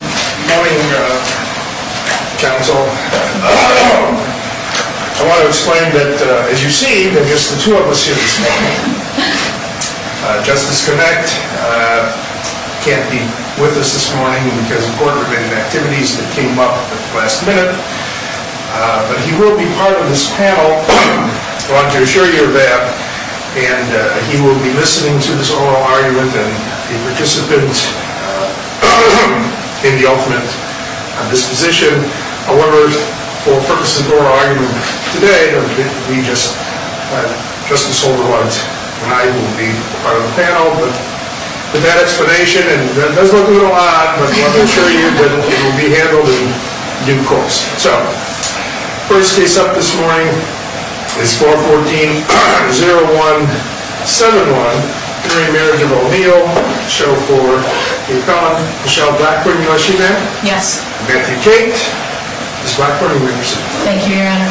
Good morning, uh, counsel. I want to explain that, uh, as you see, there are just the two of us here this morning. Uh, Justice Connacht, uh, can't be with us this morning because of court-related activities that came up at the last minute. Uh, but he will be part of this panel, I want to assure you of that. And, uh, he will be listening to this oral argument and be a participant, uh, in the ultimate, uh, disposition. However, for the purpose of the oral argument today, uh, we just, uh, Justice Holder and I will be part of the panel. But with that explanation, and that doesn't look a little odd, but I want to assure you that it will be handled in due course. So, first case up this morning is 414-0171, Marriage of O'Neill. Show for the appellant, Michelle Blackburn, you know she's there? Yes. Matthew Cate. Ms. Blackburn, who do you represent? Thank you, Your Honor.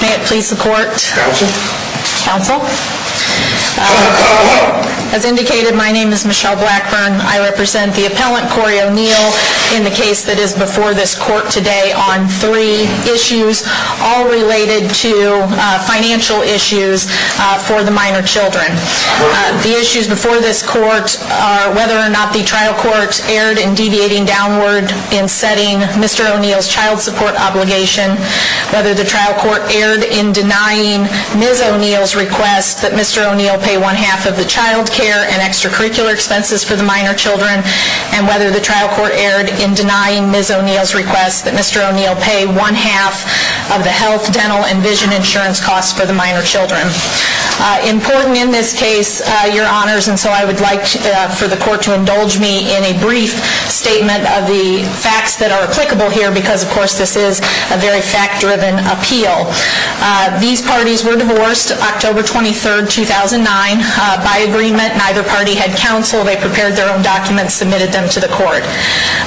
May it please the court. Counsel. Counsel. Uh, as indicated, my name is Michelle Blackburn. I represent the appellant, Corey O'Neill, in the case that is before this court today on three issues, all related to, uh, financial issues, uh, for the minor children. Uh, the issues before this court are whether or not the trial court erred in deviating downward in setting Mr. O'Neill's child support obligation, whether the trial court erred in denying Ms. O'Neill's request that Mr. O'Neill pay one half of the child care and extracurricular expenses for the minor children, and whether the trial court erred in denying Ms. O'Neill's request that Mr. O'Neill pay one half of the health, dental, and vision insurance costs for the minor children. Uh, important in this case, uh, Your Honors, and so I would like, uh, for the court to indulge me in a brief statement of the facts that are applicable here, because, of course, this is a very fact-driven appeal. Uh, these parties were divorced October 23rd, 2009, uh, by agreement. Neither party had counsel. They prepared their own documents, submitted them to the court.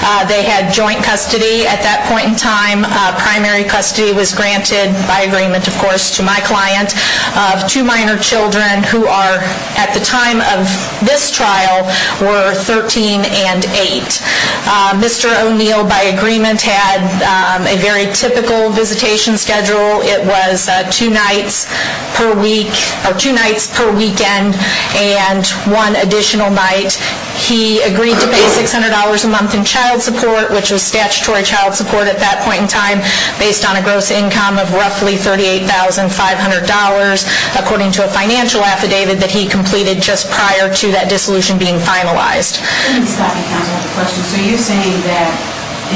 Uh, they had joint custody at that point in time. Uh, primary custody was granted by agreement, of course, to my client. Uh, two minor children who are, at the time of this trial, were 13 and 8. Uh, Mr. O'Neill, by agreement, had, um, a very typical visitation schedule. It was, uh, two nights per week, or two nights per weekend, and one additional night. He agreed to pay $600 a month in child support, which was statutory child support at that point in time, based on a gross income of roughly $38,500, according to a financial affidavit that he completed just prior to that dissolution being finalized. I didn't stop you, counsel, at the question. So you're saying that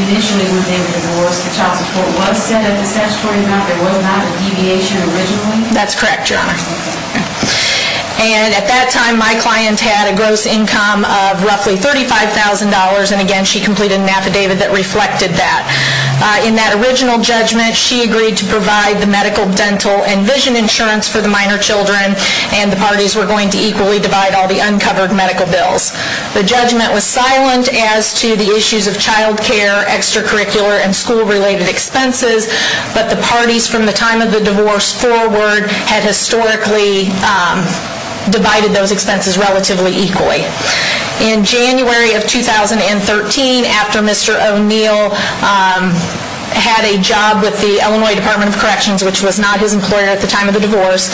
initially, when they were divorced, the child support was set at the statutory amount? There was not a deviation originally? That's correct, Your Honor. Okay. And at that time, my client had a gross income of roughly $35,000, and again, she completed an affidavit that reflected that. Uh, in that original judgment, she agreed to provide the medical, dental, and vision insurance for the minor children, and the parties were going to equally divide all the uncovered medical bills. The judgment was silent as to the issues of child care, extracurricular, and school-related expenses, but the parties from the time of the divorce forward had historically, um, divided those expenses relatively equally. In January of 2013, after Mr. O'Neill, um, had a job with the Illinois Department of Corrections, which was not his employer at the time of the divorce,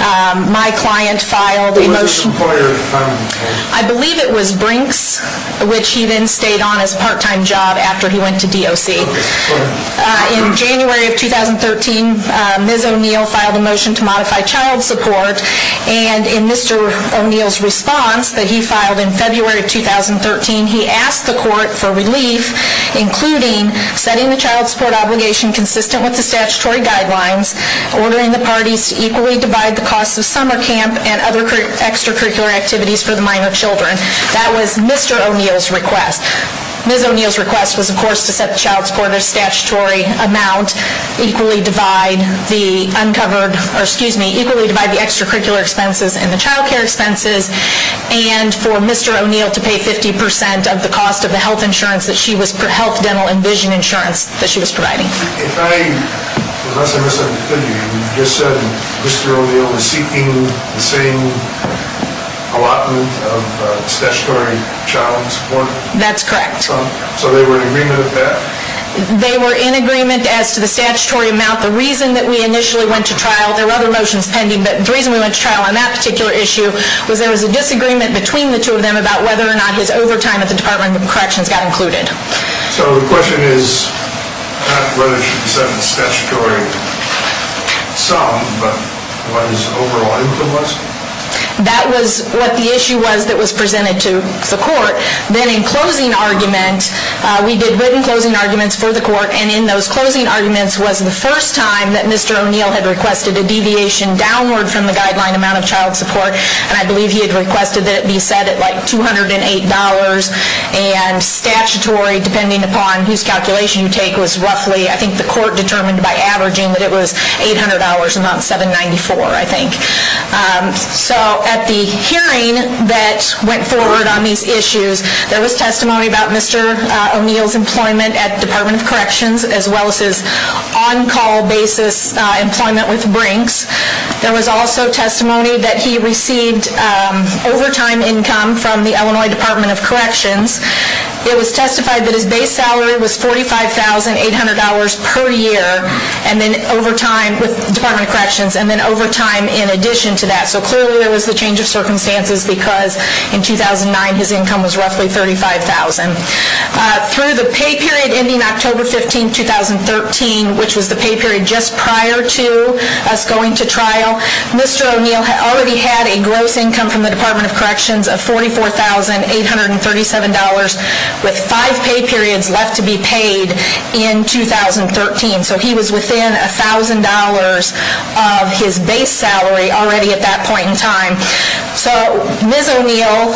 um, my client filed a motion. It was his employer at the time of the divorce? I believe it was Brinks, which he then stayed on as a part-time job after he went to DOC. Okay. Go ahead. Uh, in January of 2013, uh, Ms. O'Neill filed a motion to modify child support, and in Mr. O'Neill's response that he filed in February of 2013, he asked the court for relief, including setting the child support obligation consistent with the statutory guidelines, ordering the parties to equally divide the costs of summer camp and other extracurricular activities for the minor children. That was Mr. O'Neill's request. Ms. O'Neill's request was, of course, to set the child support a statutory amount, equally divide the uncovered, or excuse me, equally divide the extracurricular expenses and the child care expenses, and for Mr. O'Neill to pay 50% of the cost of the health insurance that she was, health, dental, and vision insurance that she was providing. If I, unless I misunderstood you, you just said Mr. O'Neill was seeking the same allotment of statutory child support? That's correct. So they were in agreement with that? They were in agreement as to the statutory amount. The reason that we initially went to trial, there were other motions pending, but the reason we went to trial on that particular issue was there was a disagreement between the two of them about whether or not his overtime at the Department of Corrections got included. So the question is not whether she set the statutory sum, but what his overall income was? That was what the issue was that was presented to the court. Then in closing argument, we did written closing arguments for the court, and in those closing arguments was the first time that Mr. O'Neill had requested a deviation downward from the guideline amount of child support, and I believe he had requested that it be set at like $208, and statutory, depending upon whose calculation you take, was roughly, I think the court determined by averaging that it was $800 and not $794, I think. So at the hearing that went forward on these issues, there was testimony about Mr. O'Neill's employment at the Department of Corrections, as well as his on-call basis employment with Brinks. There was also testimony that he received overtime income from the Illinois Department of Corrections. It was testified that his base salary was $45,800 per year, with the Department of Corrections, and then overtime in addition to that. So clearly there was the change of circumstances because in 2009 his income was roughly $35,000. Through the pay period ending October 15, 2013, which was the pay period just prior to us going to trial, Mr. O'Neill already had a gross income from the Department of Corrections of $44,837, with five pay periods left to be paid in 2013. So he was within $1,000 of his base salary already at that point in time. So Ms. O'Neill,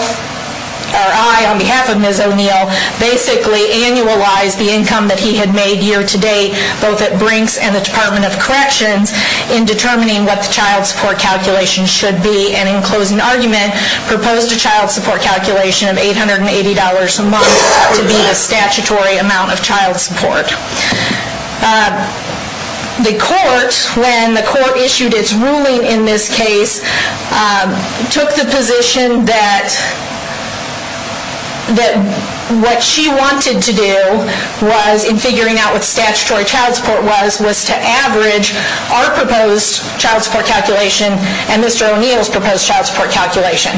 or I on behalf of Ms. O'Neill, basically annualized the income that he had made year-to-date, both at Brinks and the Department of Corrections, in determining what the child support calculation should be. And in closing argument, proposed a child support calculation of $880 a month to be the statutory amount of child support. The court, when the court issued its ruling in this case, took the position that what she wanted to do in figuring out what statutory child support was, was to average our proposed child support calculation and Mr. O'Neill's proposed child support calculation.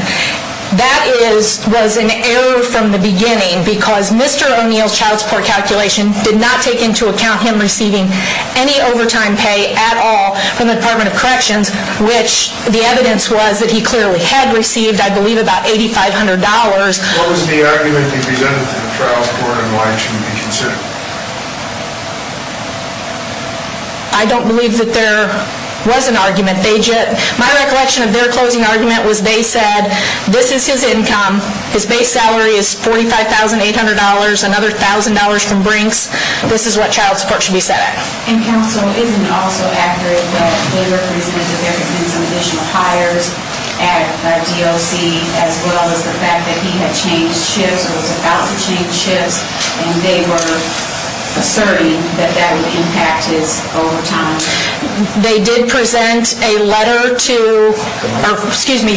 That was an error from the beginning because Mr. O'Neill's child support calculation did not take into account him receiving any overtime pay at all from the Department of Corrections, which the evidence was that he clearly had received, I believe, about $8,500. What was the argument you presented to the child support and why it shouldn't be considered? I don't believe that there was an argument. My recollection of their closing argument was they said, this is his income, his base salary is $45,800, another $1,000 from Brinks, this is what child support should be set at. And counsel, isn't it also accurate that they represented that there had been some additional hires at DOC, as well as the fact that he had changed shifts, or was about to change shifts, and they were asserting that that would impact his overtime? They did present a letter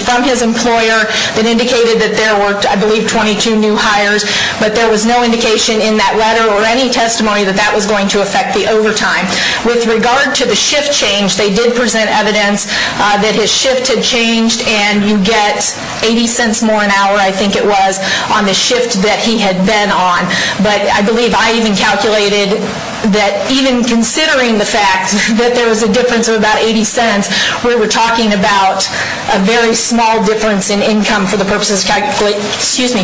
from his employer that indicated that there were, I believe, 22 new hires, but there was no indication in that letter or any testimony that that was going to affect the overtime. With regard to the shift change, they did present evidence that his shift had changed and you get $0.80 more an hour, I think it was, on the shift that he had been on. But I believe I even calculated that, even considering the fact that there was a difference of about $0.80, we were talking about a very small difference in income for the purposes of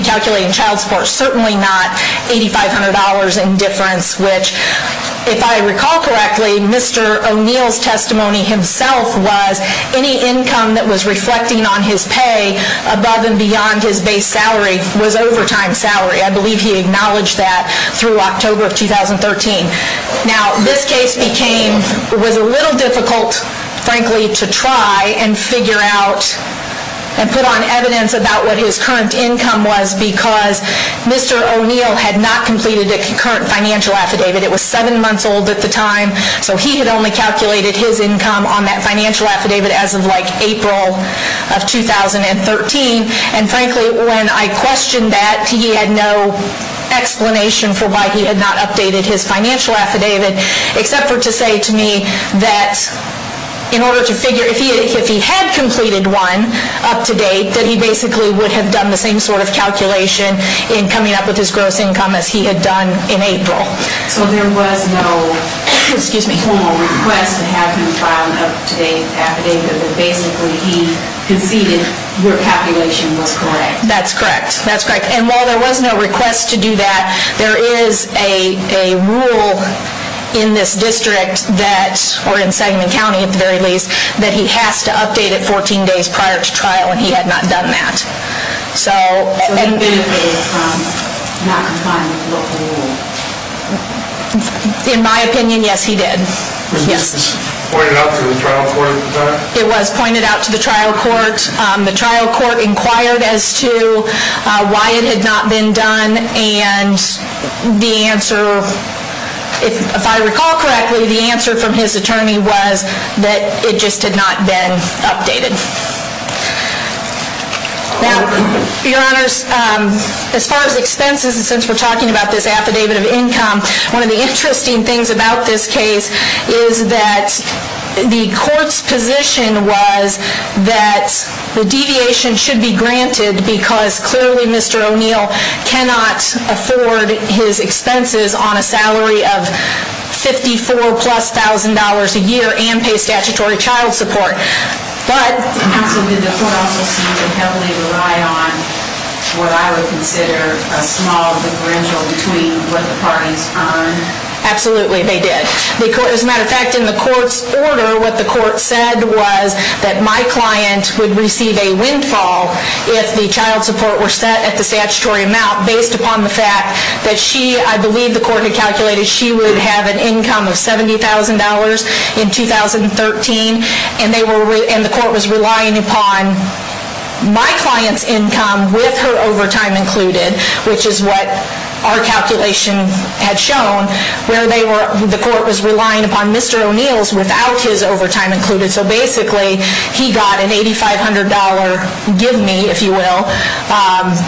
calculating child support. Certainly not $8,500 in difference, which, if I recall correctly, Mr. O'Neill's testimony himself was any income that was reflecting on his pay above and beyond his base salary was overtime salary. I believe he acknowledged that through October of 2013. Now, this case was a little difficult, frankly, to try and figure out and put on evidence about what his current income was because Mr. O'Neill had not completed a concurrent financial affidavit. It was seven months old at the time, so he had only calculated his income on that financial affidavit as of April of 2013. And frankly, when I questioned that, he had no explanation for why he had not updated his financial affidavit, except for to say to me that in order to figure, if he had completed one up to date, that he basically would have done the same sort of calculation in coming up with his gross income as he had done in April. So there was no formal request to have him file an up-to-date affidavit, but basically he conceded your calculation was correct? That's correct. That's correct. And while there was no request to do that, there is a rule in this district that, or in Sagamon County at the very least, that he has to update it 14 days prior to trial, and he had not done that. So he did not comply with the law? In my opinion, yes, he did. Was this pointed out to the trial court? It was pointed out to the trial court. The trial court inquired as to why it had not been done, and the answer, if I recall correctly, the answer from his attorney was that it just had not been updated. Now, your honors, as far as expenses, and since we're talking about this affidavit of income, one of the interesting things about this case is that the court's position was that the deviation should be granted because clearly Mr. O'Neill cannot afford his expenses on a salary of $54,000 plus a year and pay statutory child support. Did the court also seem to heavily rely on what I would consider a small differential between what the parties earned? Absolutely, they did. As a matter of fact, in the court's order, what the court said was that my client would receive a windfall if the child support were set at the statutory amount based upon the fact that she, I believe the court had calculated, she would have an income of $70,000 in 2013, and the court was relying upon my client's income with her overtime included, which is what our calculation had shown, where the court was relying upon Mr. O'Neill's without his overtime included. So basically, he got an $8,500 give me, if you will,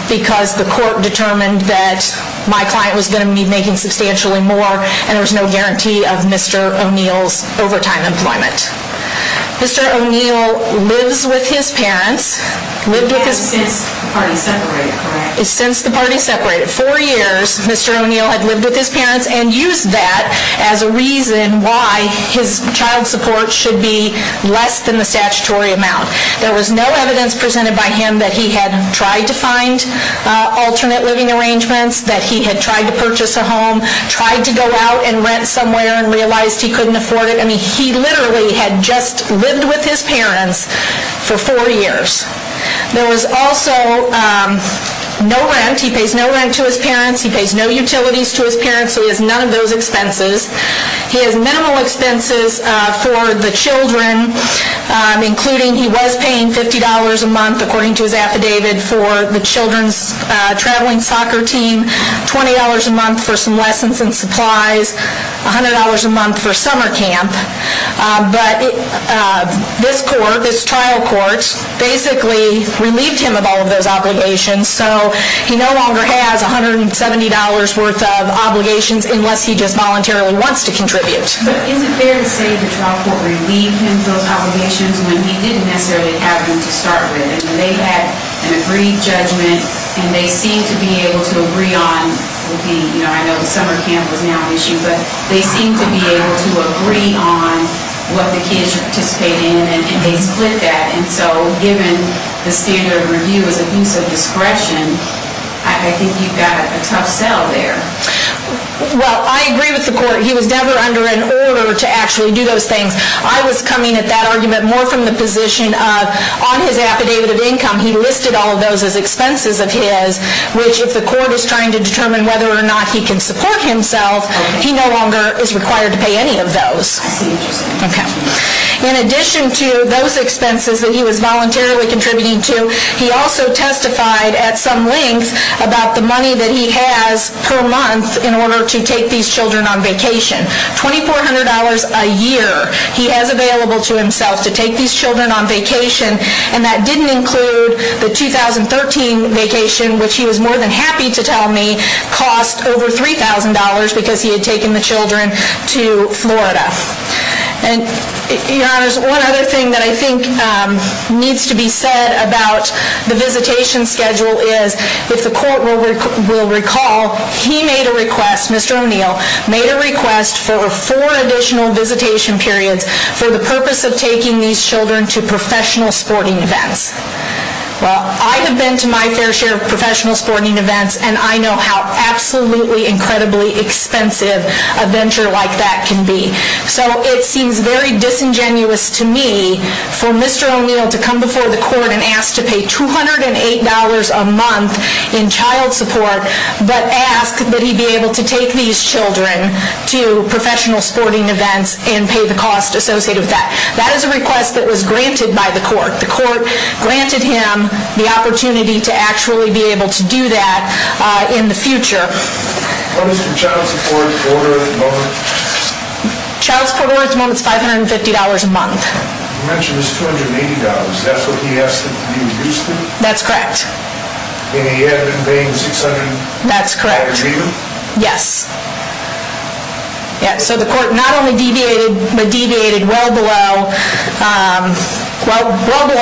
because the court determined that my client was going to be making substantially more and there was no guarantee of Mr. O'Neill's overtime employment. Mr. O'Neill lives with his parents, lived with his parents. Since the party separated, correct? Since the party separated. Mr. O'Neill had lived with his parents and used that as a reason why his child support should be less than the statutory amount. There was no evidence presented by him that he had tried to find alternate living arrangements, that he had tried to purchase a home, tried to go out and rent somewhere and realized he couldn't afford it. I mean, he literally had just lived with his parents for four years. There was also no rent. He pays no rent to his parents. He pays no utilities to his parents. He has none of those expenses. He has minimal expenses for the children, including he was paying $50 a month, according to his affidavit, for the children's traveling soccer team, $20 a month for some lessons and supplies, $100 a month for summer camp. But this court, this trial court, basically relieved him of all of those obligations. So he no longer has $170 worth of obligations unless he just voluntarily wants to contribute. But is it fair to say the trial court relieved him of those obligations when he didn't necessarily have them to start with? And when they had an agreed judgment and they seemed to be able to agree on, you know, I know the summer camp was now an issue, but they seemed to be able to agree on what the kids should participate in and they split that. And so given the standard of review is abuse of discretion, I think you've got a tough sell there. Well, I agree with the court. He was never under an order to actually do those things. I was coming at that argument more from the position of, on his affidavit of income, he listed all of those as expenses of his, which if the court is trying to determine whether or not he can support himself, he no longer is required to pay any of those. Okay. In addition to those expenses that he was voluntarily contributing to, he also testified at some length about the money that he has per month in order to take these children on vacation. $2,400 a year he has available to himself to take these children on vacation, and that didn't include the 2013 vacation, which he was more than happy to tell me, cost over $3,000 because he had taken the children to Florida. And, Your Honors, one other thing that I think needs to be said about the visitation schedule is, if the court will recall, he made a request, Mr. O'Neill made a request for four additional visitation periods for the purpose of taking these children to professional sporting events. Well, I have been to my fair share of professional sporting events, and I know how absolutely incredibly expensive a venture like that can be. So it seems very disingenuous to me for Mr. O'Neill to come before the court and ask to pay $208 a month in child support, but ask that he be able to take these children to professional sporting events and pay the cost associated with that. That is a request that was granted by the court. The court granted him the opportunity to actually be able to do that in the future. What is the child support order at the moment? Child support order at the moment is $550 a month. You mentioned it's $280. Is that what he asked to be reduced to? That's correct. And he had been paying $600? That's correct. By agreement? Yes. So the court not only deviated, but deviated well below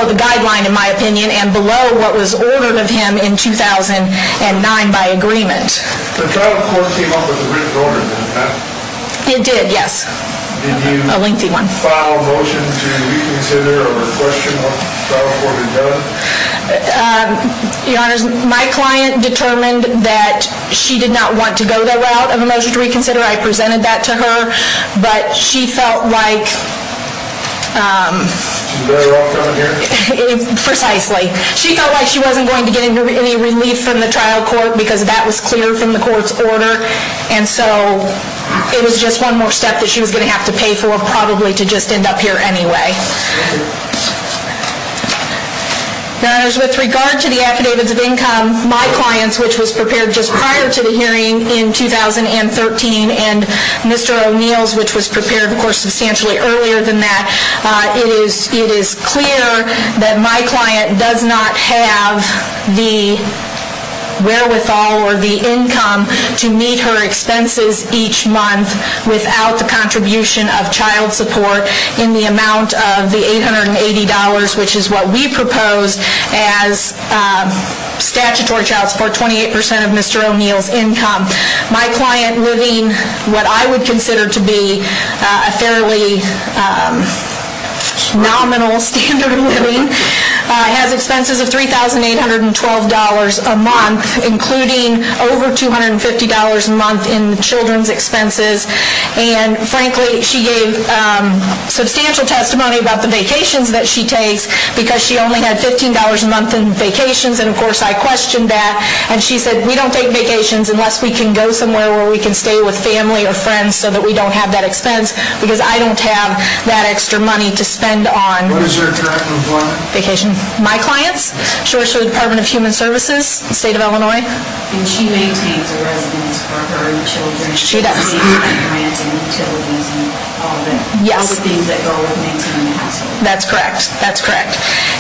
the guideline, in my opinion, and below what was ordered of him in 2009 by agreement. The child support came up with a written order, didn't it? It did, yes. A lengthy one. Did you file a motion to reconsider or question what the child support had done? Your Honor, my client determined that she did not want to go the route of a motion to reconsider. I presented that to her, but she felt like she wasn't going to get any relief from the trial court because that was clear from the court's order, and so it was just one more step that she was going to have to pay for probably to just end up here anyway. Thank you. Your Honors, with regard to the affidavits of income, my client's, which was prepared just prior to the hearing in 2013, and Mr. O'Neill's, which was prepared, of course, substantially earlier than that, it is clear that my client does not have the wherewithal or the income to meet her expenses each month without the contribution of child support in the amount of the $880, which is what we proposed as statutory child support, 28% of Mr. O'Neill's income. My client, living what I would consider to be a fairly nominal standard of living, has expenses of $3,812 a month, including over $250 a month in children's expenses, and frankly she gave substantial testimony about the vacations that she takes because she only had $15 a month in vacations, and of course I questioned that, and she said, we don't take vacations unless we can go somewhere where we can stay with family or friends so that we don't have that expense because I don't have that extra money to spend on What is your direct employment? Vacation. My clients. She works for the Department of Human Services, the state of Illinois. And she maintains a residence for her children? She does. She pays for the rent and utilities and all the things that go with maintaining the household? That's correct. That's correct.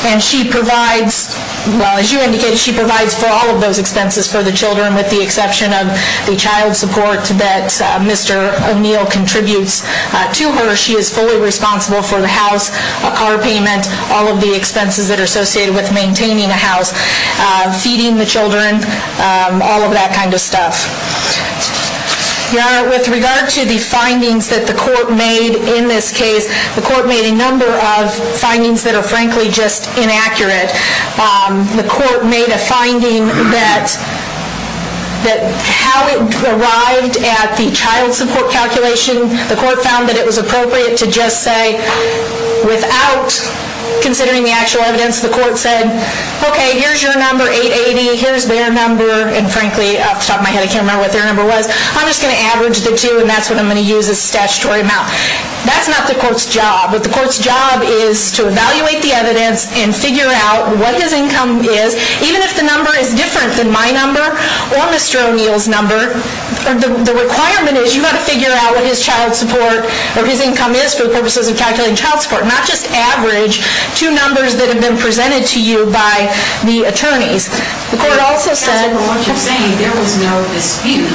And she provides, well as you indicated, she provides for all of those expenses for the children with the exception of the child support that Mr. O'Neill contributes to her. She is fully responsible for the house, a car payment, all of the expenses that are associated with maintaining a house, feeding the children, all of that kind of stuff. With regard to the findings that the court made in this case, the court made a number of findings that are frankly just inaccurate. The court made a finding that how it arrived at the child support calculation, the court found that it was appropriate to just say, without considering the actual evidence, the court said, okay, here's your number, 880, here's their number, and frankly, off the top of my head, I can't remember what their number was. I'm just going to average the two and that's what I'm going to use as a statutory amount. That's not the court's job. What the court's job is to evaluate the evidence and figure out what his income is, even if the number is different than my number or Mr. O'Neill's number. The requirement is you've got to figure out what his child support or his income is for the purposes of calculating child support, not just average two numbers that have been presented to you by the attorneys. The court also said- As for what you're saying, there was no dispute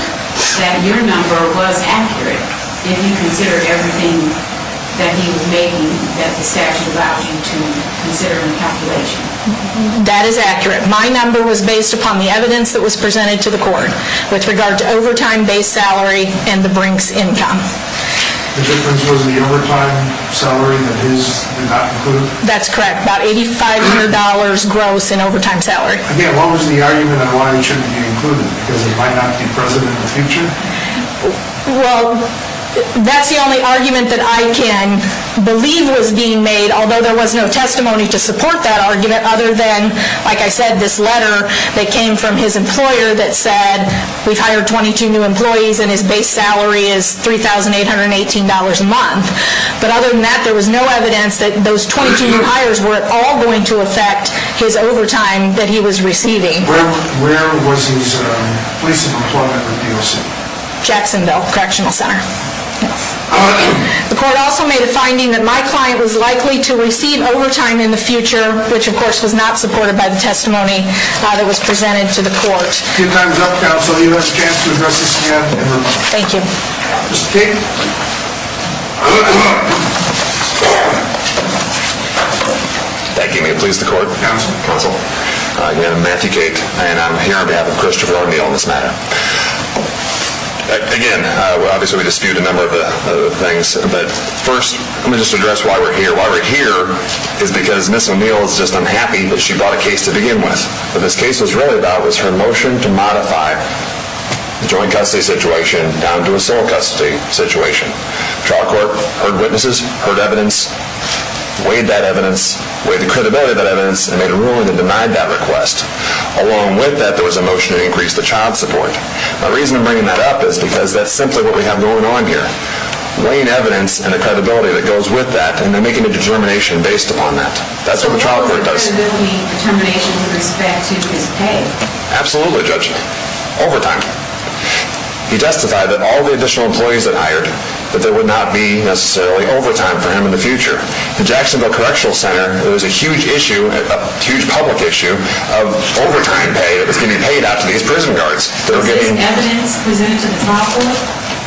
that your number was accurate if you consider everything that he was making that the statute allowed you to consider in calculation. That is accurate. My number was based upon the evidence that was presented to the court with regard to overtime-based salary and the Brink's income. The difference was the overtime salary that his did not include? That's correct, about $8,500 gross in overtime salary. Again, what was the argument on why it shouldn't be included? Because it might not be present in the future? Well, that's the only argument that I can believe was being made, although there was no testimony to support that argument other than, like I said, this letter that came from his employer that said, we've hired 22 new employees and his base salary is $3,818 a month. But other than that, there was no evidence that those 22 new hires were at all going to affect his overtime that he was receiving. Where was his place of employment with DOC? Jacksonville Correctional Center. The court also made a finding that my client was likely to receive overtime in the future, which of course was not supported by the testimony that was presented to the court. Your time is up, Counsel. You have a chance to address this again. Thank you. Mr. Cate. Thank you. May it please the Court. Counsel. Counsel. Again, I'm Matthew Cate, and I'm here on behalf of Christopher O'Neill on this matter. Again, obviously we disputed a number of things, but first let me just address why we're here. It's because Ms. O'Neill is just unhappy that she brought a case to begin with. What this case was really about was her motion to modify the joint custody situation down to a sole custody situation. The trial court heard witnesses, heard evidence, weighed that evidence, weighed the credibility of that evidence, and made a ruling that denied that request. Along with that, there was a motion to increase the child support. The reason I'm bringing that up is because that's simply what we have going on here, weighing evidence and the credibility that goes with that, and they're making a determination based upon that. That's what the trial court does. So there will be determination with respect to his pay? Absolutely, Judge. Overtime. He testified that all the additional employees that hired, that there would not be necessarily overtime for him in the future. In Jacksonville Correctional Center, there was a huge issue, a huge public issue, of overtime pay that was getting paid out to these prison guards. Was this evidence presented to the trial court?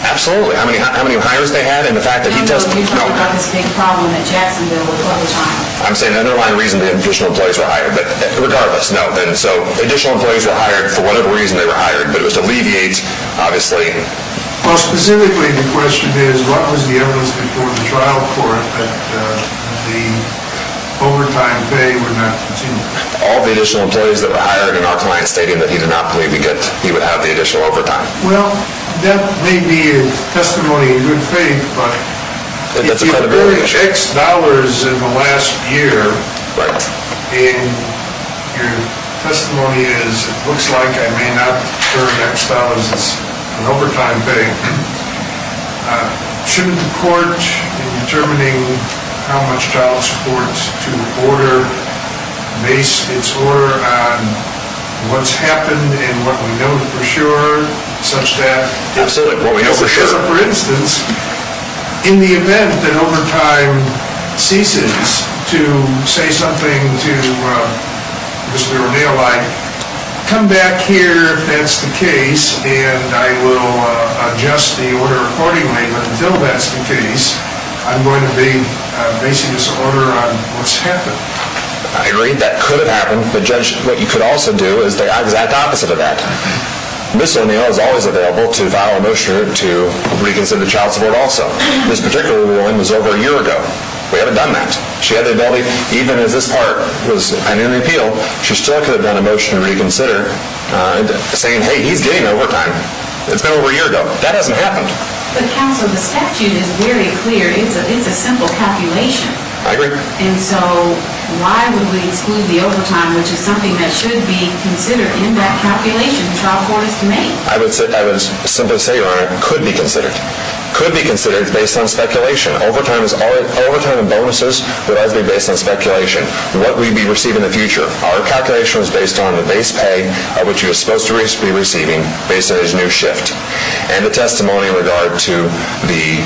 Absolutely. How many hires they had and the fact that he testified. You're talking about this big problem in Jacksonville with overtime. I'm saying the underlying reason the additional employees were hired. But regardless, no. And so additional employees were hired for whatever reason they were hired, but it was to alleviate, obviously. Well, specifically the question is, what was the evidence before the trial court that the overtime pay would not continue? All the additional employees that were hired, and our client stating that he did not believe he would have the additional overtime. Well, that may be a testimony in good faith, but if you've earned X dollars in the last year, and your testimony is, it looks like I may not earn X dollars as an overtime pay, shouldn't the court, in determining how much child support to order, base its order on what's happened and what we know for sure, such that, for instance, in the event that overtime ceases, to say something to Mr. O'Neill like, come back here if that's the case, and I will adjust the order accordingly, but until that's the case, I'm going to base this order on what's happened. I agree that could have happened, but Judge, what you could also do is the exact opposite of that. Ms. O'Neill is always available to file a motion to reconsider the child support also. This particular ruling was over a year ago. We haven't done that. She had the ability, even as this part was under repeal, she still could have done a motion to reconsider, saying, hey, he's getting overtime. It's been over a year ago. That hasn't happened. But counsel, the statute is very clear. It's a simple calculation. I agree. And so, why would we exclude the overtime, which is something that should be considered in that calculation, child support is to make? I would simply say, Your Honor, it could be considered. It could be considered. It's based on speculation. Overtime and bonuses would always be based on speculation. What would we be receiving in the future? Our calculation was based on the base pay, which he was supposed to be receiving, based on his new shift, and the testimony in regard to the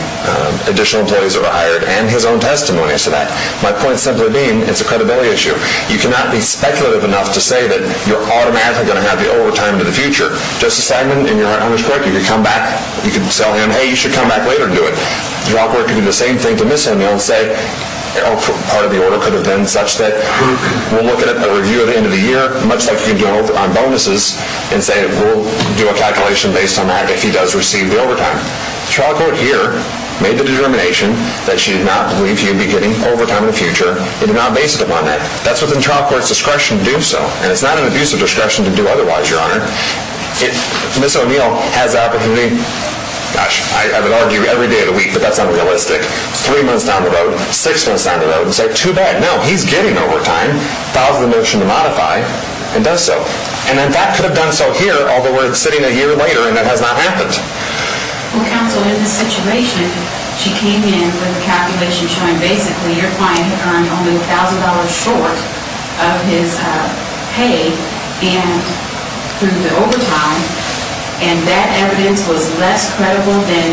additional employees who were hired, and his own testimony as to that. My point simply being, it's a credibility issue. You cannot be speculative enough to say that you're automatically going to have the overtime in the future. Justice Steinman, in your honor's court, you could come back. You could tell him, hey, you should come back later and do it. The trial court could do the same thing to Ms. Hemingway and say, oh, part of the order could have been such that we'll look at a review at the end of the year, much like you can do on bonuses, and say we'll do a calculation based on that if he does receive the overtime. The trial court here made the determination that she did not believe he would be getting overtime in the future. It did not base it upon that. That's within trial court's discretion to do so, and it's not an abuse of discretion to do otherwise, your honor. If Ms. O'Neill has the opportunity, gosh, I would argue every day of the week that that's unrealistic, three months down the road, six months down the road, and say, too bad, no, he's getting overtime, files the motion to modify, and does so. And in fact could have done so here, although we're sitting a year later and that has not happened. Well, counsel, in this situation, she came in with a calculation showing basically your client had earned only $1,000 short of his pay and through the overtime, and that evidence was less credible than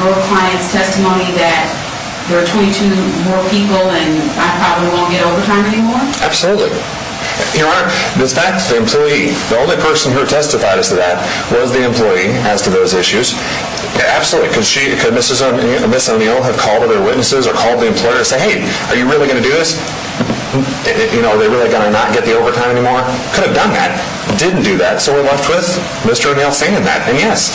your client's testimony that there are 22 more people and I probably won't get overtime anymore? Absolutely. Your honor, in fact, the employee, the only person who testified as to that was the employee as to those issues. Absolutely. Could Ms. O'Neill have called other witnesses or called the employer and said, hey, are you really going to do this? Are they really going to not get the overtime anymore? Could have done that. Didn't do that. So we're left with Mr. O'Neill saying that, and yes,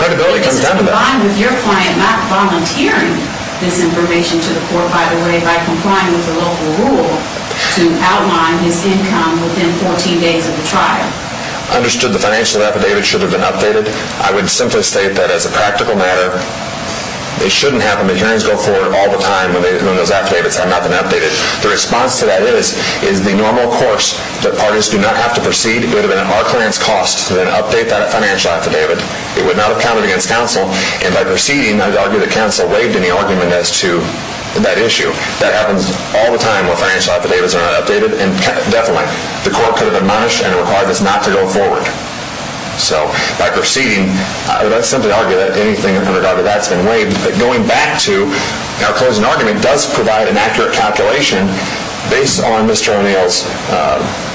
credibility comes down to that. This is combined with your client not volunteering this information to the court, by the way, by complying with the local rule to outline his income within 14 days of the trial. I understood the financial affidavit should have been updated. I would simply state that as a practical matter, it shouldn't happen. The hearings go forward all the time when those affidavits have not been updated. The response to that is, is the normal course that parties do not have to proceed, it would have been at our client's cost to then update that financial affidavit. It would not have counted against counsel, and by proceeding, I would argue that counsel waived any argument as to that issue. That happens all the time when financial affidavits are not updated, and definitely the court could have admonished and required this not to go forward. So, by proceeding, I would simply argue that anything in regard to that has been waived, but going back to our closing argument does provide an accurate calculation based on Mr. O'Neill's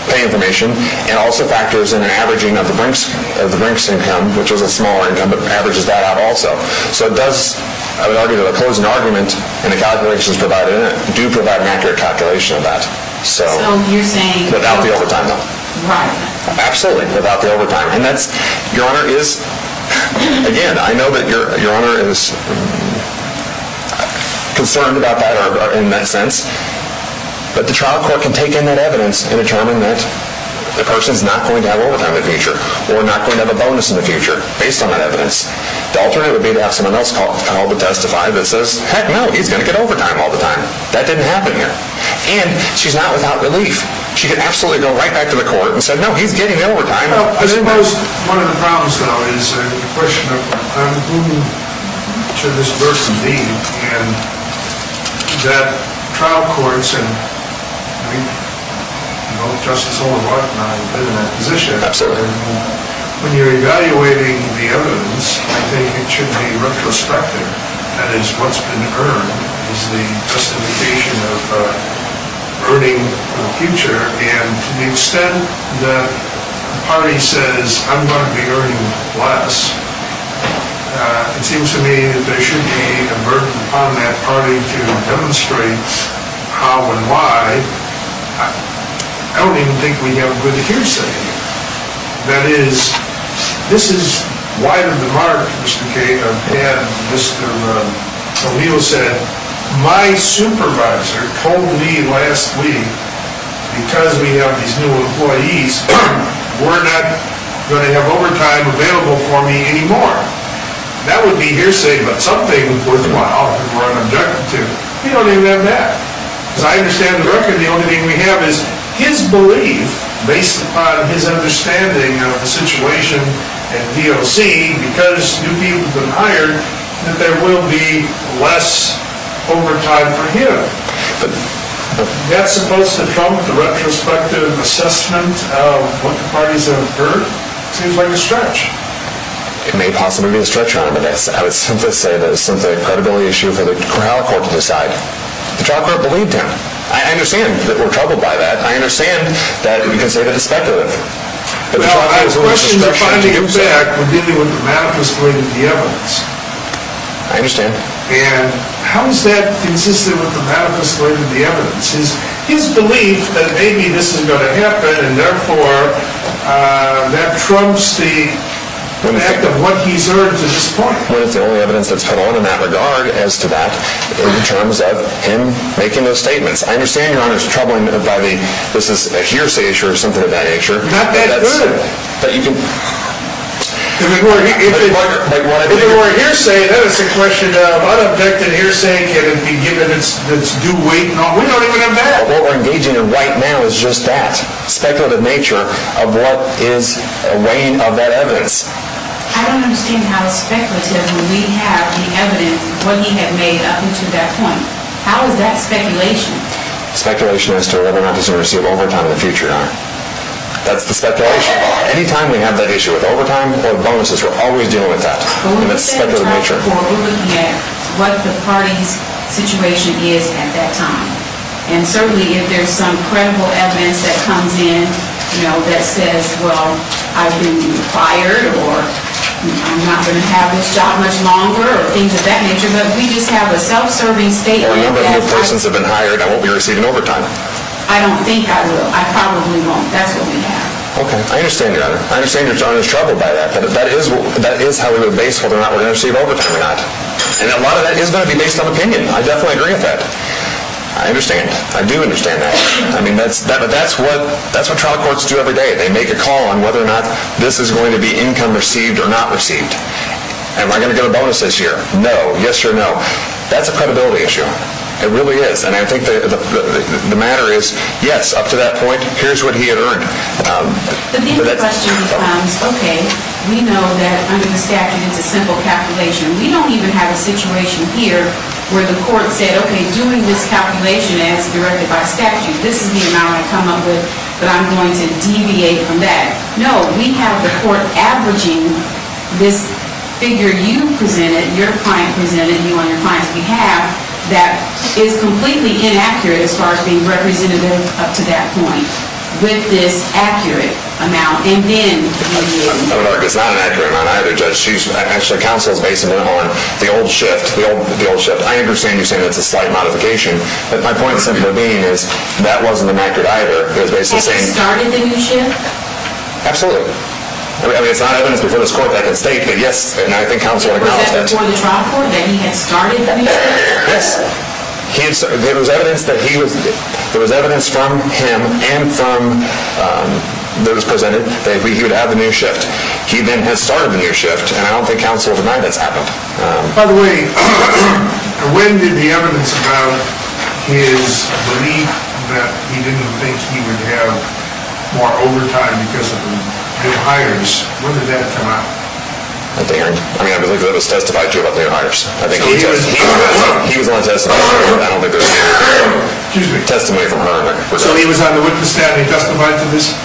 pay information, and also factors in an averaging of the brink's income, which was a smaller income, but averages that out also. So it does, I would argue that a closing argument and the calculations provided in it do provide an accurate calculation of that. So, without the overtime bill. Right. Absolutely, without the overtime, and that's, Your Honor is, again, I know that Your Honor is concerned about that in that sense, but the trial court can take in that evidence and determine that the person is not going to have overtime in the future, or not going to have a bonus in the future based on that evidence. The alternate would be to have someone else call the trial to testify that says, heck no, he's going to get overtime all the time. That didn't happen here. And, she's not without relief. She could absolutely go right back to the court and say, no, he's getting overtime. I suppose one of the problems, though, is the question of who should this person be, and that trial courts, and, you know, Justice Olbermann and I have been in that position. Absolutely. When you're evaluating the evidence, I think it should be retrospective. That is, what's been earned is the justification of earning in the future, and to the extent that the party says, I'm going to be earning less, it seems to me that there should be a burden upon that party to demonstrate how and why. I don't even think we have a good hearsay. That is, this has widened the mark, Mr. Cain. I've had Mr. O'Neill said, my supervisor told me last week, because we have these new employees, we're not going to have overtime available for me anymore. That would be hearsay, but something was worthwhile if we're an objective. We don't even have that. As I understand the record, the only thing we have is his belief, based upon his understanding of the situation at DOC, because new people have been hired, that there will be less overtime for him. That's supposed to trump the retrospective assessment of what the parties have earned? It seems like a stretch. It may possibly be a stretch, Your Honor, but I would simply say that it's simply a credibility issue for the trial court to decide. The trial court believed him. I understand that we're troubled by that. I understand that you can say that it's speculative. Well, our questions are finding it back when dealing with the math that's related to the evidence. I understand. And how is that consistent with the math that's related to the evidence? His belief that maybe this is going to happen, and therefore that trumps the act of what he's earned to this point. Well, it's the only evidence that's put on in that regard, as to that, in terms of him making those statements. I understand, Your Honor, it's troubling by the, this is a hearsay issue or something of that nature. Not that good. If it were a hearsay, then it's a question of unobjected hearsay. Can it be given its due weight? We don't even have that. What we're engaging in right now is just that speculative nature of what is weighing of that evidence. I don't understand how it's speculative when we have the evidence, what he had made up until that point. How is that speculation? Speculation as to whether or not he's going to receive overtime in the future, Your Honor. That's the speculation. Any time we have that issue with overtime or bonuses, we're always dealing with that. And it's speculative nature. Well, we set a time for looking at what the party's situation is at that time. And certainly if there's some credible evidence that comes in, you know, that says, well, I've been fired or I'm not going to have this job much longer or things of that nature, but we just have a self-serving state. Well, nobody new persons have been hired. I won't be receiving overtime. I don't think I will. I probably won't. That's what we have. Okay. I understand, Your Honor. I understand Your Honor's troubled by that. But that is how we would base whether or not we're going to receive overtime or not. And a lot of that is going to be based on opinion. I definitely agree with that. I understand. I do understand that. I mean, that's what trial courts do every day. They make a call on whether or not this is going to be income received or not received. Am I going to get a bonus this year? No. Yes or no? That's a credibility issue. It really is. And I think the matter is, yes, up to that point, here's what he had earned. The big question becomes, okay, we know that under the statute it's a simple calculation. We don't even have a situation here where the court said, okay, doing this calculation as directed by statute, this is the amount I come up with, but I'm going to deviate from that. No. We have the court averaging this figure you presented, your client presented, you on your client's behalf, that is completely inaccurate as far as being representative up to that point with this accurate amount. It's not an accurate amount either, Judge. Actually, counsel is basing it on the old shift, the old shift. I understand you're saying that's a slight modification, but my point simply being is that wasn't an accurate either. Has he started the new shift? Absolutely. I mean, it's not evidence before this court that can state that, yes, and I think counsel would acknowledge that. Was that before the trial court that he had started the new shift? Yes. There was evidence from him and from those presented that he would have the new shift. He then had started the new shift, and I don't think counsel denied that's happened. By the way, when did the evidence about his belief that he didn't think he would have more overtime because of new hires, when did that come out? At the end? I mean, I believe that was testified to about new hires. So he was on the witness stand and he testified to this?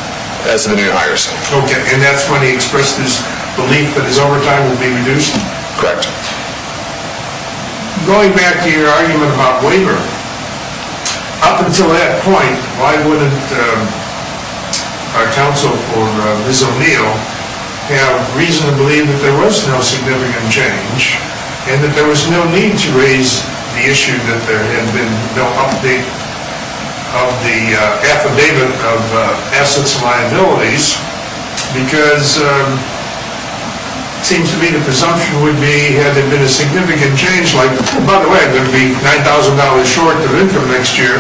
Testimony of hires. Okay, and that's when he expressed his belief that his overtime would be reduced? Correct. Going back to your argument about waiver, up until that point, why wouldn't our counsel for Ms. O'Neill have reasonably believed that there was no significant change and that there was no need to raise the issue that there had been no update of the affidavit of assets liabilities because it seems to me the presumption would be had there been a significant change like, by the way, it would be $9,000 short of income next year.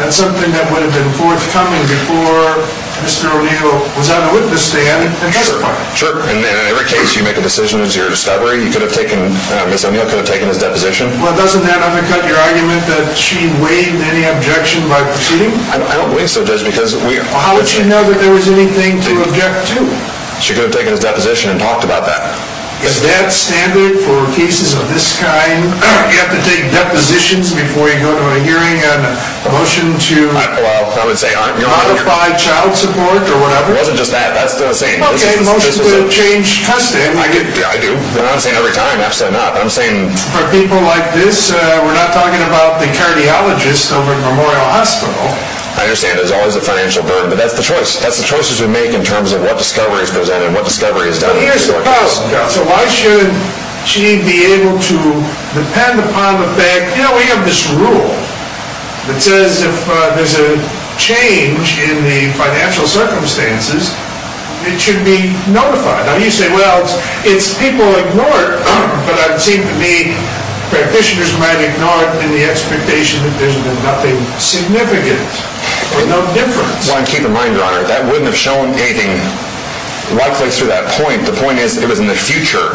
That's something that would have been forthcoming before Mr. O'Neill was on the witness stand and testified. Sure, and in every case you make a decision, it's your discovery. Ms. O'Neill could have taken his deposition. Well, doesn't that undercut your argument that she waived any objection by proceeding? I don't believe so, Judge. How would she know that there was anything to object to? She could have taken his deposition and talked about that. Is that standard for cases of this kind? You have to take depositions before you go to a hearing on a motion to modify child support or whatever? It wasn't just that. Okay, motions will change constantly. I do, but I'm not saying every time. Absolutely not. For people like this, we're not talking about the cardiologist over at Memorial Hospital. I understand there's always a financial burden, but that's the choice. That's the choices we make in terms of what discovery is presented and what discovery is done. So why should she be able to depend upon the fact? You know, we have this rule that says if there's a change in the financial circumstances, it should be notified. Now, you say, well, it's people ignored. But it seems to me practitioners might ignore it in the expectation that there's been nothing significant or no difference. I want to keep in mind, Your Honor, that wouldn't have shown anything likely through that point. The point is it was in the future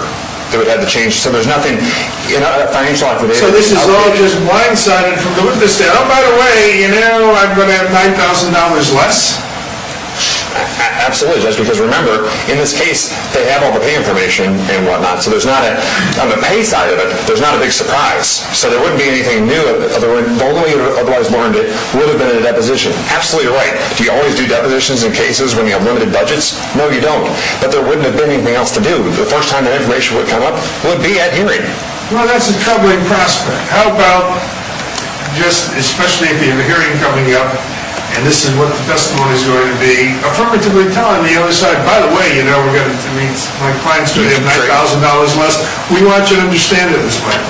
that it would have the change. So there's nothing in that financial affidavit. So this is all just blindsided from the witness that, oh, by the way, you know, I'm going to have $9,000 less? Absolutely. Just because, remember, in this case, they have all the pay information and whatnot. So there's not, on the pay side of it, there's not a big surprise. So there wouldn't be anything new. The only otherwise warranted would have been a deposition. Absolutely right. Do you always do depositions in cases when you have limited budgets? No, you don't. But there wouldn't have been anything else to do. The first time that information would come up would be at hearing. Well, that's a troubling prospect. How about just, especially if you have a hearing coming up, and this is what the testimony is going to be, affirmatively telling the other side, by the way, you know, my client's going to have $9,000 less. We want you to understand it as well.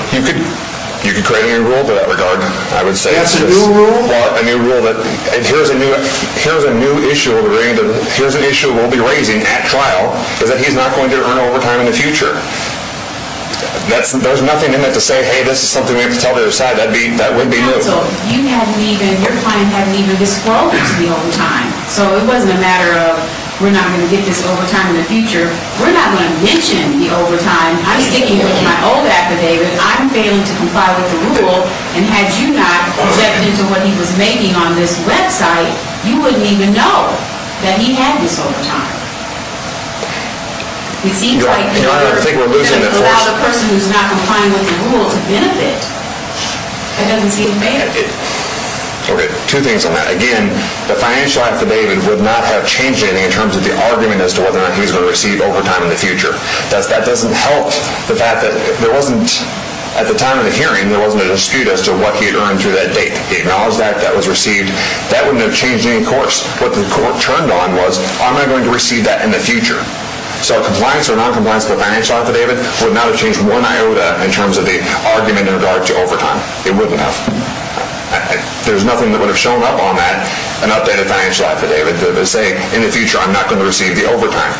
You could create a new rule to that regard, I would say. That's a new rule? Well, a new rule that, here's a new issue we'll be raising at trial, is that he's not going to earn overtime in the future. There's nothing in it to say, hey, this is something we have to tell the other side. That wouldn't be new. Counsel, you hadn't even, your client hadn't even disclosed the overtime. So it wasn't a matter of we're not going to get this overtime in the future. We're not going to mention the overtime. I'm sticking with my old affidavit. I'm failing to comply with the rule, and had you not leapt into what he was making on this website, you wouldn't even know that he had this overtime. It seems like you're going to allow the person who's not complying with the rule to benefit. That doesn't seem fair. Okay, two things on that. Again, the financial affidavit would not have changed anything in terms of the argument as to whether or not he was going to receive overtime in the future. That doesn't help the fact that there wasn't, at the time of the hearing, there wasn't a dispute as to what he had earned through that date. He acknowledged that. That was received. That wouldn't have changed any course. What the court turned on was, am I going to receive that in the future? So a compliance or noncompliance financial affidavit would not have changed one iota in terms of the argument in regard to overtime. It wouldn't have. There's nothing that would have shown up on that, an updated financial affidavit, that would say, in the future, I'm not going to receive the overtime.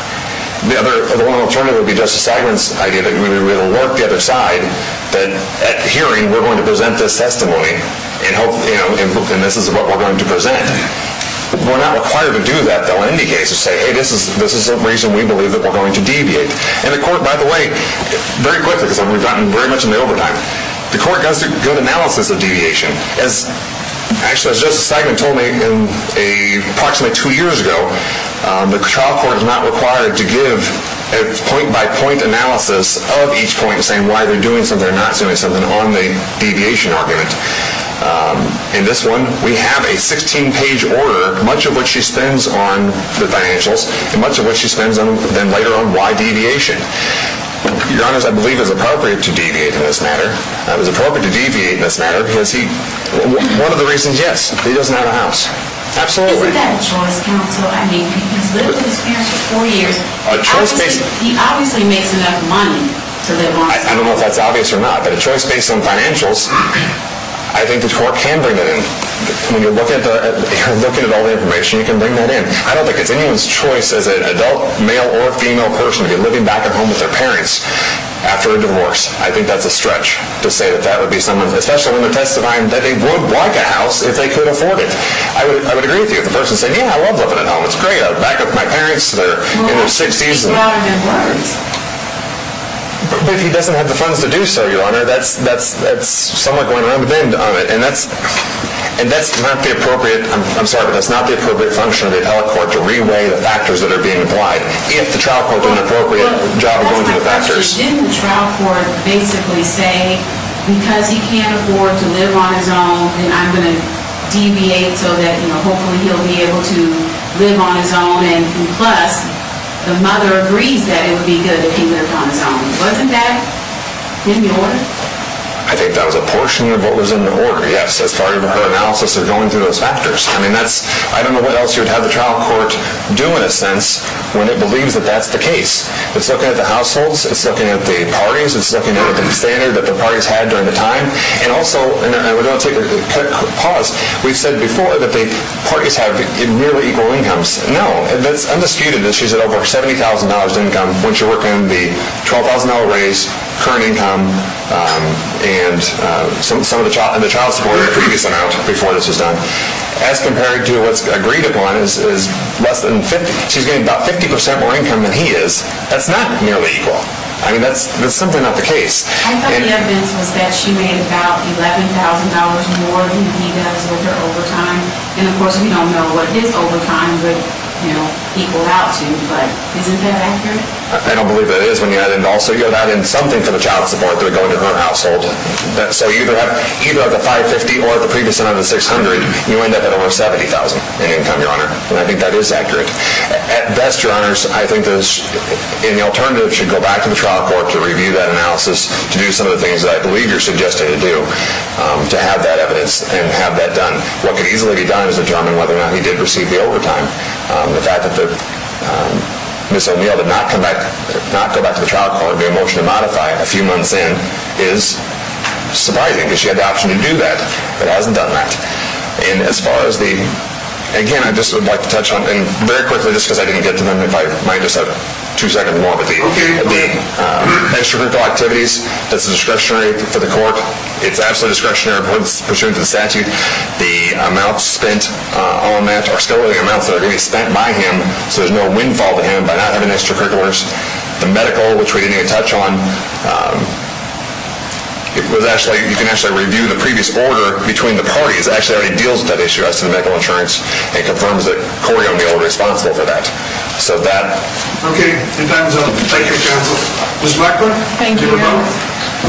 The one alternative would be Justice Eichmann's idea that we would alert the other side that at hearing, we're going to present this testimony, and this is what we're going to present. We're not required to do that, though, in any case, to say, hey, this is the reason we believe that we're going to deviate. And the court, by the way, very quickly, because we've gotten very much into overtime, the court does a good analysis of deviation. Actually, as Justice Eichmann told me approximately two years ago, the trial court is not required to give a point-by-point analysis of each point saying why they're doing something or not doing something on the deviation argument. In this one, we have a 16-page order, much of which she spends on the financials, and much of which she spends then later on why deviation. Your Honor, I believe it was appropriate to deviate in this matter. It was appropriate to deviate in this matter because one of the reasons, yes, he doesn't have a house. Absolutely. Isn't that a choice, counsel? I mean, he's lived in this house for four years. He obviously makes enough money to live long enough. I don't know if that's obvious or not, but a choice based on financials I think the court can bring that in. When you're looking at all the information, you can bring that in. I don't think it's anyone's choice as an adult male or female person to be living back at home with their parents after a divorce. I think that's a stretch to say that that would be someone, especially when they're testifying, that they would like a house if they could afford it. I would agree with you. If the person said, yeah, I love living at home. It's great. I'll back up my parents. They're in their 60s. Well, he's not in their 40s. But if he doesn't have the funds to do so, Your Honor, that's somewhat going around the bend on it. And that's not the appropriate, I'm sorry, but that's not the appropriate function of the appellate court to re-weigh the factors that are being applied if the trial court did an appropriate job going through the factors. That's my question. Didn't the trial court basically say, because he can't afford to live on his own, then I'm going to deviate so that hopefully he'll be able to live on his own, and plus, the mother agrees that it would be good if he lived on his own. Wasn't that in the order? I think that was a portion of what was in the order, yes, as far as her analysis of going through those factors. I mean, I don't know what else you would have the trial court do, in a sense, when it believes that that's the case. It's looking at the households. It's looking at the parties. It's looking at the standard that the parties had during the time. And also, and we're going to take a quick pause. We've said before that the parties have nearly equal incomes. No, that's undisputed. She's at over $70,000 in income. Once you work in the $12,000 raise, current income, and some of the child support that previously went out before this was done, as compared to what's agreed upon is less than 50. She's getting about 50% more income than he is. That's not nearly equal. I mean, that's simply not the case. I thought the evidence was that she made about $11,000 more than he does with her overtime. And, of course, we don't know what his overtime would equal out to. But isn't that accurate? I don't believe that is when you add in also you add in something for the child support that would go into her household. So you could have either the $550,000 or the previous amount of the $600,000. You end up at over $70,000 in income, Your Honor. And I think that is accurate. At best, Your Honors, I think the alternative should go back to the trial court to review that analysis to do some of the things that I believe you're suggesting to do to have that evidence and have that done. What could easily be done is determine whether or not he did receive the overtime. The fact that Ms. O'Neill did not go back to the trial court, did not get a motion to modify a few months in is surprising because she had the option to do that, but hasn't done that. And as far as the, again, I just would like to touch on, and very quickly just because I didn't get to them if I might just have two seconds more, but the extracurricular activities, that's discretionary for the court. It's absolutely discretionary pursuant to the statute. The amounts spent on that are still the amounts that are going to be spent by him, so there's no windfall to him by not having extracurriculars. The medical, which we didn't even touch on, you can actually review the previous order between the parties. It actually already deals with that issue as to the medical insurance and confirms that Corey O'Neill was responsible for that. Okay, your time is up. Ms. Blackburn? Thank you, Your Honor. Ms.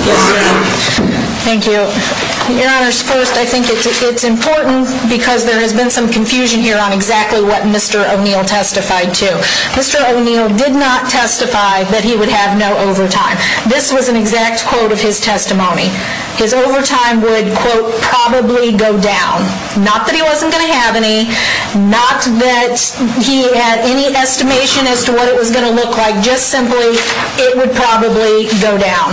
Blackburn? Yes, sir. Thank you. So, Your Honor, first I think it's important because there has been some confusion here on exactly what Mr. O'Neill testified to. Mr. O'Neill did not testify that he would have no overtime. This was an exact quote of his testimony. His overtime would, quote, probably go down. Not that he wasn't going to have any, not that he had any estimation as to what it was going to look like. Just simply, it would probably go down.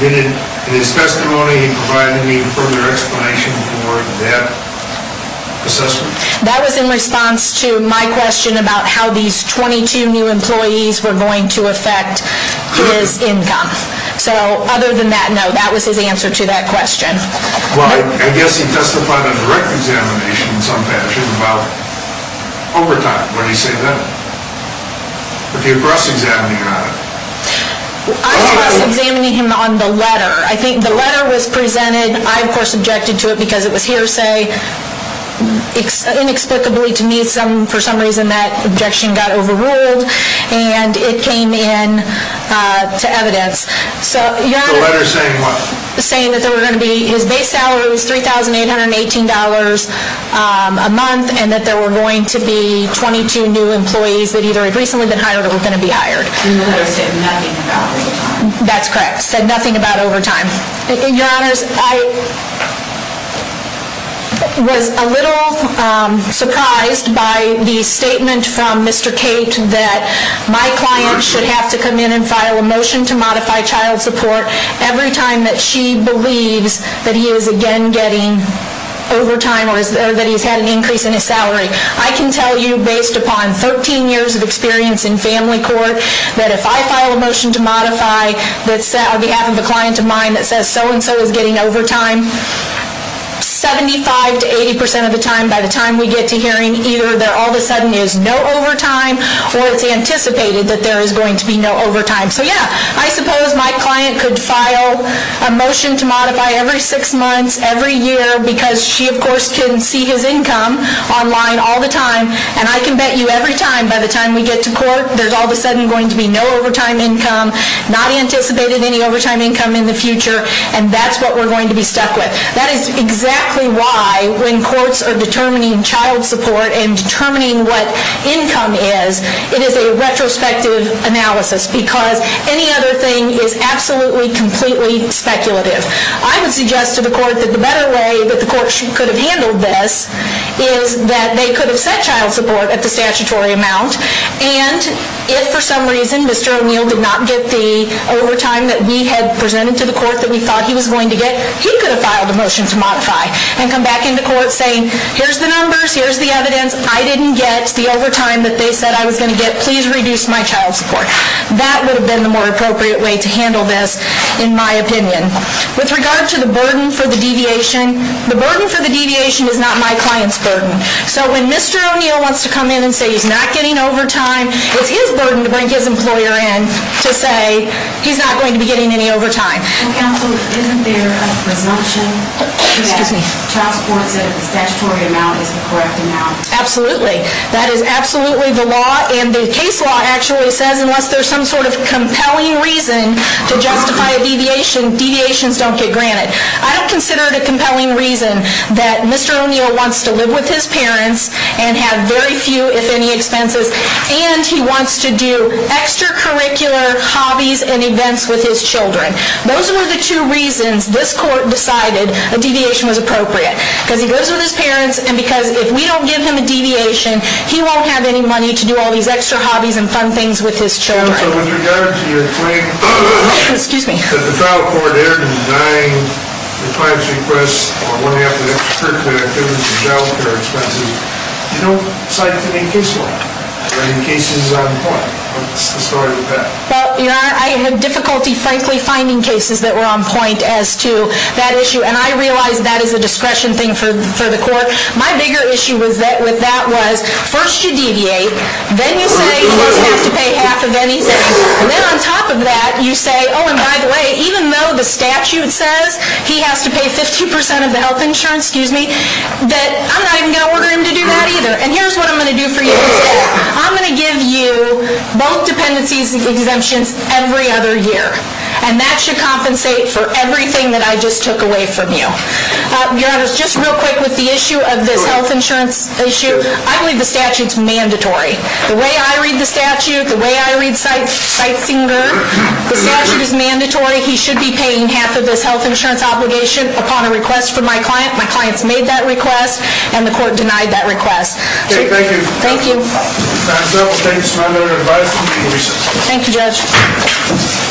Did his testimony provide any further explanation for that assessment? That was in response to my question about how these 22 new employees were going to affect his income. So, other than that, no. That was his answer to that question. Well, I guess he testified on direct examination in some fashion about overtime. What do you say to that? If you're cross-examining on it. I'm cross-examining him on the letter. I think the letter was presented. I, of course, objected to it because it was hearsay inexplicably to me. For some reason that objection got overruled and it came in to evidence. The letter saying what? Saying that there were going to be, his base salary was $3,818 a month and that there were going to be 22 new employees that either had recently been hired or were going to be hired. And the letter said nothing about overtime. That's correct. It said nothing about overtime. Your Honors, I was a little surprised by the statement from Mr. Cate that my client should have to come in and file a motion to modify child support every time that she believes that he is again getting overtime or that he's had an increase in his salary. I can tell you based upon 13 years of experience in family court that if I file a motion to modify on behalf of a client of mine that says so-and-so is getting overtime 75 to 80 percent of the time by the time we get to hearing either there all of a sudden is no overtime or it's anticipated that there is going to be no overtime. So yeah, I suppose my client could file a motion to modify every six months, every year because she of course can see his income online all the time and I can bet you every time by the time we get to court there's all of a sudden going to be no overtime income not anticipated any overtime income in the future and that's what we're going to be stuck with. That is exactly why when courts are determining child support and determining what income is it is a retrospective analysis because any other thing is absolutely completely speculative. I would suggest to the court that the better way that the court could have handled this is that they could have set child support at the statutory amount and if for some reason Mr. O'Neill did not get the overtime that we had presented to the court that we thought he was going to get, he could have filed a motion to modify and come back into court saying here's the numbers, here's the evidence I didn't get the overtime that they said I was going to get, please reduce my child support. That would have been the more appropriate way to handle this in my opinion. With regard to the burden for the deviation, the burden for the deviation is not my client's burden. So when Mr. O'Neill wants to come in and say he's not getting overtime it's his burden to bring his employer in to say he's not going to be getting any overtime. Counsel, isn't there a presumption that child support at the statutory amount is the correct amount? Absolutely, that is absolutely the law and the case law actually says unless there's some sort of compelling reason to justify a deviation, deviations don't get granted. I don't consider it a compelling reason that Mr. O'Neill wants to live with his parents and have very few if any expenses and he wants to do extracurricular hobbies and events with his children. Those were the two reasons this court decided a deviation was appropriate. Because he goes with his parents and because if we don't give him a deviation he won't have any money to do all these extra hobbies and fun things with his children. So with regard to your claim that the trial court erred in denying the client's request on one of the extracurricular activities and child care expenses, you don't cite any case law? Are any cases on point? What's the story with that? Well, Your Honor, I had difficulty frankly finding cases that were on point as to that issue and I realize that is a discretion thing for the court. My bigger issue with that was first you deviate, then you say he has to pay half of anything, and then on top of that you say, oh and by the way, even though the statute says he has to pay 50% of the health insurance, excuse me, that I'm not even going to order him to do that either. And here's what I'm going to do for you instead. I'm going to give you both dependencies and exemptions every other year. And that should compensate for everything that I just took away from you. Your Honor, just real quick with the issue of this health insurance issue. I believe the statute's mandatory. The way I read the statute, the way I read Seitzinger, the statute is mandatory. He should be paying half of his health insurance obligation upon a request from my client. My client's made that request and the court denied that request. Okay, thank you. Thank you. And so, thanks for my little advice and congratulations. Thank you, Judge.